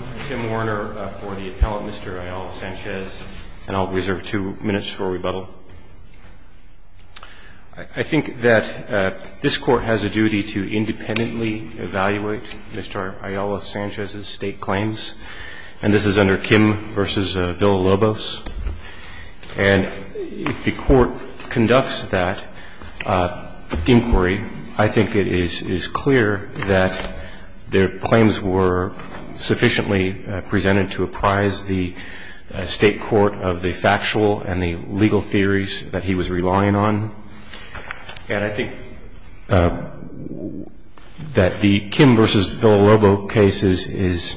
I'm Tim Warner for the appellant, Mr. Ayala Sanchez, and I'll reserve two minutes for rebuttal. I think that this Court has a duty to independently evaluate Mr. Ayala Sanchez's state claims, and this is under Kim v. Villa-Lobos. And if the Court conducts that inquiry, I think it is clear that their claims were sufficiently presented to apprise the State court of the factual and the legal theories that he was relying on. And I think that the Kim v. Villa-Lobos case is,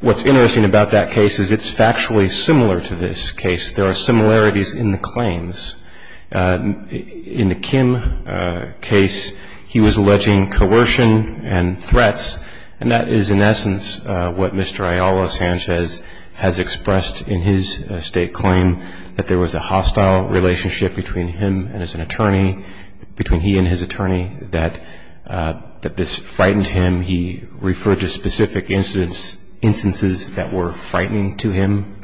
what's interesting about that case is it's factually similar to this case. There are similarities in the claims. In the Kim case, he was alleging coercion and threats, and that is, in essence, what Mr. Ayala Sanchez has expressed in his State claim, that there was a hostile relationship between him and his attorney, that this frightened him. He referred to specific instances that were frightening to him.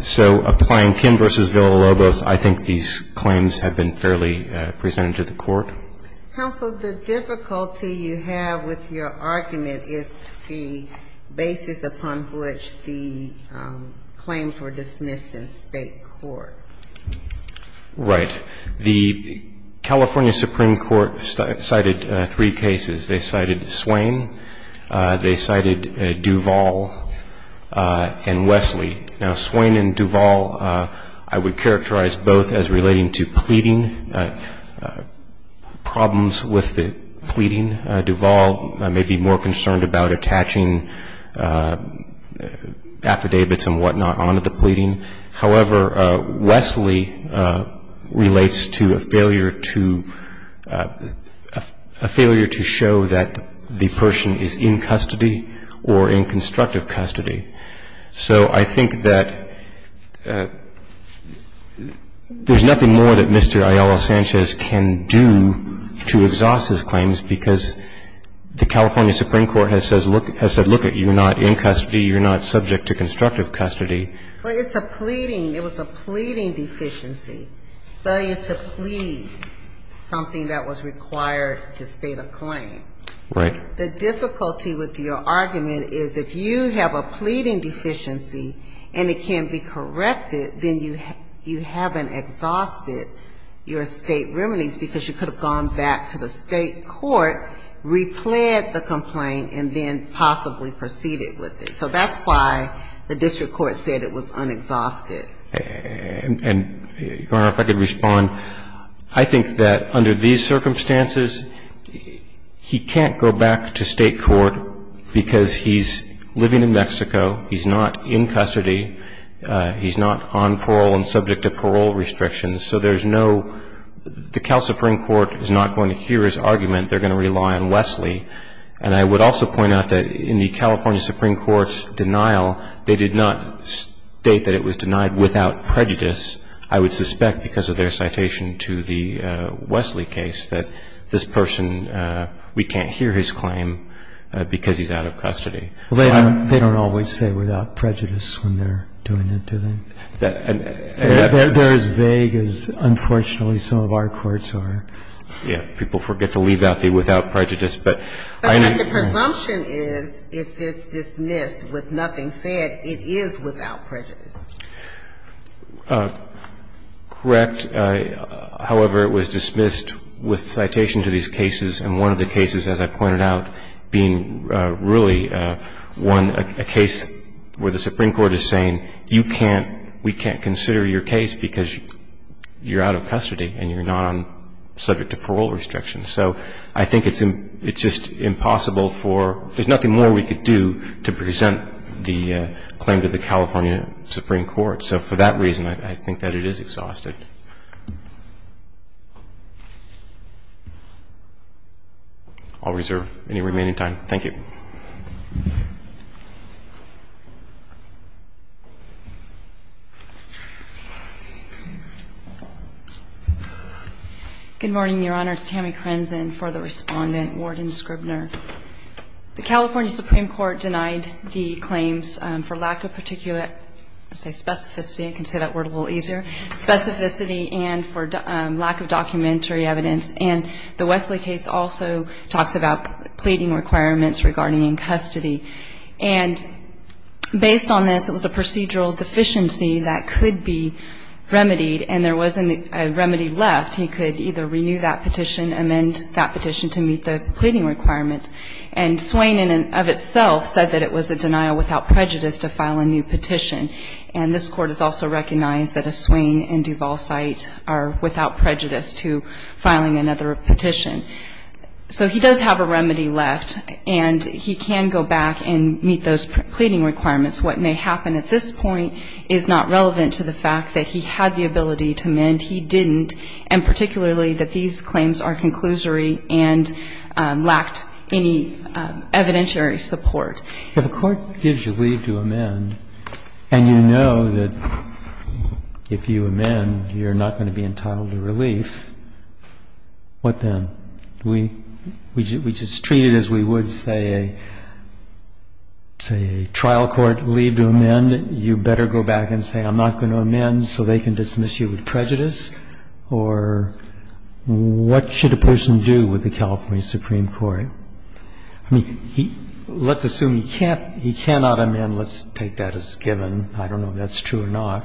So applying Kim v. Villa-Lobos, I think these claims have been fairly presented to the Court. Counsel, the difficulty you have with your argument is the basis upon which the claims were dismissed in State court. Right. The California Supreme Court cited three cases. They cited Swain. They cited Duvall and Wesley. Now, Swain and Duvall I would characterize both as relating to pleading, problems with the pleading. Duvall may be more concerned about attaching affidavits and whatnot onto the pleading. However, Wesley relates to a failure to show that the person is in custody or in constructive custody. So I think that there's nothing more that Mr. Ayala Sanchez can do to exhaust his claims because the California Supreme Court has said, look at you, you're not in custody, you're not subject to constructive custody. But it's a pleading. It was a pleading deficiency, failure to plead, something that was required to state a claim. Right. The difficulty with your argument is if you have a pleading deficiency and it can't be corrected, then you haven't exhausted your State remedies because you could have gone back to the State court, repled the complaint, and then possibly proceeded with it. So that's why the district court said it was unexhausted. And, Your Honor, if I could respond, I think that under these circumstances, he can't go back to State court because he's living in Mexico. He's not in custody. He's not on parole and subject to parole restrictions. So there's no the Cal Supreme Court is not going to hear his argument. They're going to rely on Wesley. And I would also point out that in the California Supreme Court's denial, they did not state that it was denied without prejudice. I would suspect because of their citation to the Wesley case that this person, we can't hear his claim because he's out of custody. They don't always say without prejudice when they're doing it, do they? They're as vague as, unfortunately, some of our courts are. Yeah. People forget to leave out the without prejudice. But the presumption is if it's dismissed with nothing said, it is without prejudice. Correct. However, it was dismissed with citation to these cases, and one of the cases, as I pointed out, being really one, a case where the Supreme Court is saying, you can't, we can't consider your case because you're out of custody and you're not subject to parole restrictions. So I think it's just impossible for, there's nothing more we could do to present the claim to the California Supreme Court. So for that reason, I think that it is exhausted. I'll reserve any remaining time. Thank you. Good morning, Your Honor. It's Tammy Crenzen for the respondent, Warden Scribner. The California Supreme Court denied the claims for lack of particular, I'll say specificity, I can say that word a little easier, specificity and for lack of documentary evidence. And the Wesley case also talks about pleading requirements, requiring that the plaintiff's testimony be documented. And based on this, it was a procedural deficiency that could be remedied, and there wasn't a remedy left. He could either renew that petition, amend that petition to meet the pleading requirements. And Swain, in and of itself, said that it was a denial without prejudice to file a new petition. And this Court has also recognized that a Swain and Duval site are without prejudice to filing another petition. So he does have a remedy left. And he can go back and meet those pleading requirements. What may happen at this point is not relevant to the fact that he had the ability to amend. He didn't. And particularly that these claims are conclusory and lacked any evidentiary support. If the Court gives you leave to amend and you know that if you amend, you're not going to be entitled to relief, what then? We just treat it as we would say a trial court leave to amend. You better go back and say I'm not going to amend so they can dismiss you with prejudice. Or what should a person do with the California Supreme Court? I mean, let's assume he can't, he cannot amend. Let's take that as given. I don't know if that's true or not.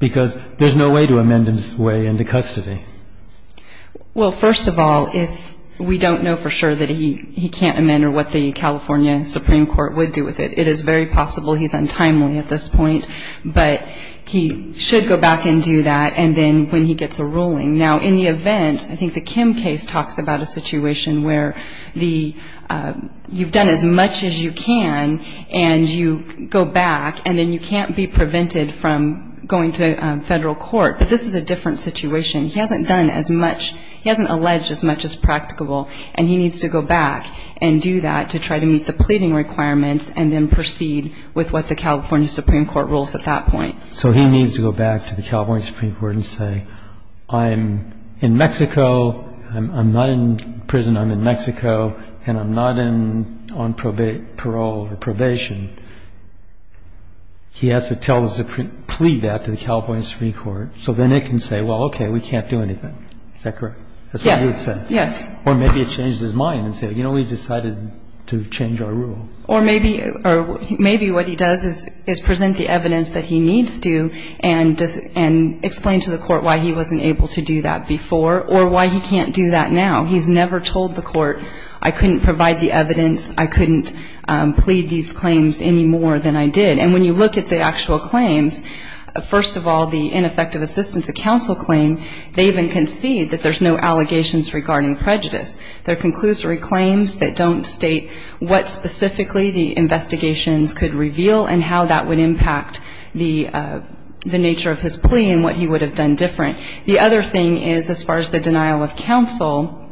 Because there's no way to amend his way into custody. Well, first of all, if we don't know for sure that he can't amend or what the California Supreme Court would do with it, it is very possible he's untimely at this point. But he should go back and do that. And then when he gets a ruling. Now, in the event, I think the Kim case talks about a situation where you've done as much as you can and you go back. And then you can't be prevented from going to Federal court. But this is a different situation. He hasn't done as much. He hasn't alleged as much as practicable. And he needs to go back and do that to try to meet the pleading requirements and then proceed with what the California Supreme Court rules at that point. So he needs to go back to the California Supreme Court and say I'm in Mexico. I'm not in prison. I'm in Mexico. And I'm not on parole or probation. He has to plead that to the California Supreme Court. So then it can say, well, okay, we can't do anything. Is that correct? That's what he would say. Yes. Yes. Or maybe it changes his mind and say, you know, we decided to change our rule. Or maybe what he does is present the evidence that he needs to and explain to the court why he wasn't able to do that before or why he can't do that now. He's never told the court I couldn't provide the evidence, I couldn't plead these claims any more than I did. And when you look at the actual claims, first of all, the ineffective assistance of counsel claim, they even concede that there's no allegations regarding prejudice. They're conclusory claims that don't state what specifically the investigations could reveal and how that would impact the nature of his plea and what he would have done different. The other thing is, as far as the denial of counsel,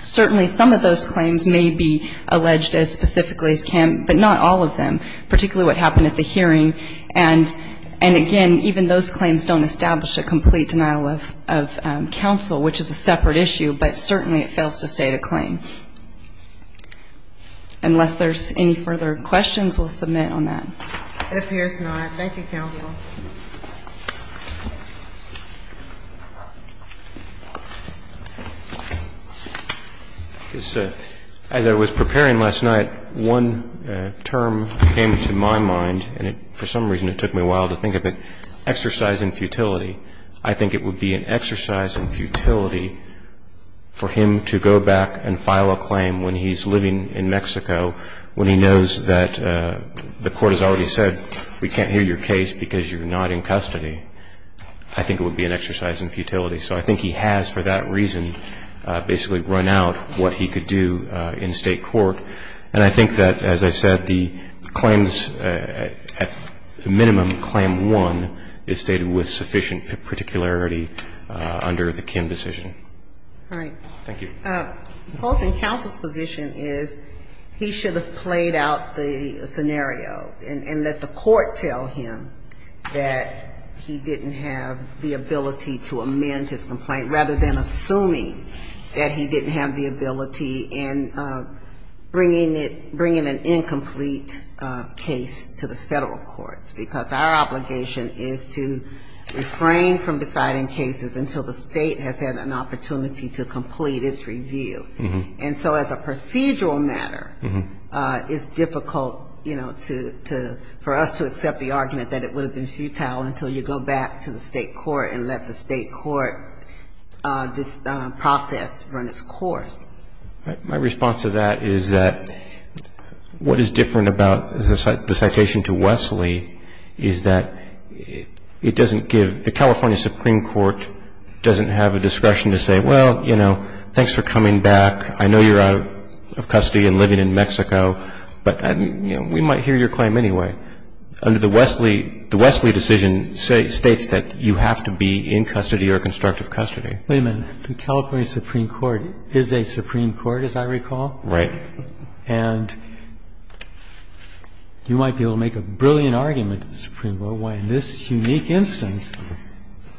certainly some of those claims may be alleged as specifically as Kim, but not all of them, particularly what happened at the hearing. And again, even those claims don't establish a complete denial of counsel, which is a separate issue, but certainly it fails to state a claim. Unless there's any further questions, we'll submit on that. It appears not. Thank you, counsel. As I was preparing last night, one term came to my mind, and for some reason it took me a while to think of it, exercise and futility. I think it would be an exercise in futility for him to go back and file a claim when he's living in Mexico, when he knows that the Court has already said, we can't hear your case because you're not in custody. I think it would be an exercise in futility. So I think he has, for that reason, basically run out what he could do in State court. And I think that, as I said, the claims, at minimum, Claim 1 is stated with sufficient particularity under the Kim decision. All right. Thank you. Colson, counsel's position is he should have played out the scenario and let the State tell him that he didn't have the ability to amend his complaint, rather than assuming that he didn't have the ability and bringing it, bringing an incomplete case to the Federal courts, because our obligation is to refrain from deciding cases until the State has had an opportunity to complete its review. And so as a procedural matter, it's difficult, you know, to, for us to accept the argument that it would have been futile until you go back to the State court and let the State court process run its course. My response to that is that what is different about the citation to Wesley is that it doesn't give, the California Supreme Court doesn't have a discretion to say, well, you know, thanks for coming back. I know you're out of custody and living in Mexico. But, you know, we might hear your claim anyway. Under the Wesley, the Wesley decision states that you have to be in custody or constructive custody. Wait a minute. The California Supreme Court is a Supreme Court, as I recall. Right. And you might be able to make a brilliant argument, Supreme Court, why in this unique instance,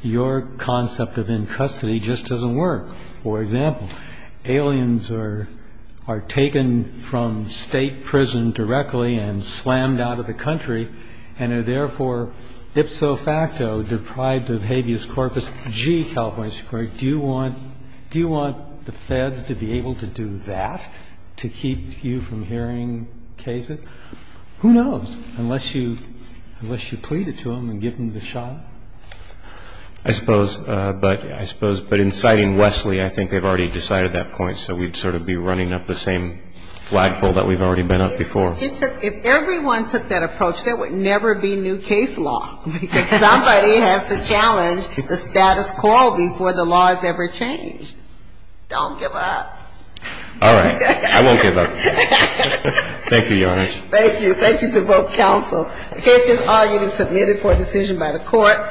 your concept of in custody just doesn't work. For example, aliens are taken from State prison directly and slammed out of the country and are therefore ipso facto deprived of habeas corpus. Gee, California Supreme Court, do you want the Feds to be able to do that to keep you from hearing cases? Who knows? Unless you plead it to them and give them the shot. I suppose. But in citing Wesley, I think they've already decided that point. So we'd sort of be running up the same flagpole that we've already been up before. If everyone took that approach, there would never be new case law because somebody has to challenge the status quo before the law has ever changed. Don't give up. All right. I won't give up. Thank you, Your Honor. Thank you. Thank you to both counsel. The case is argued and submitted for decision by the court.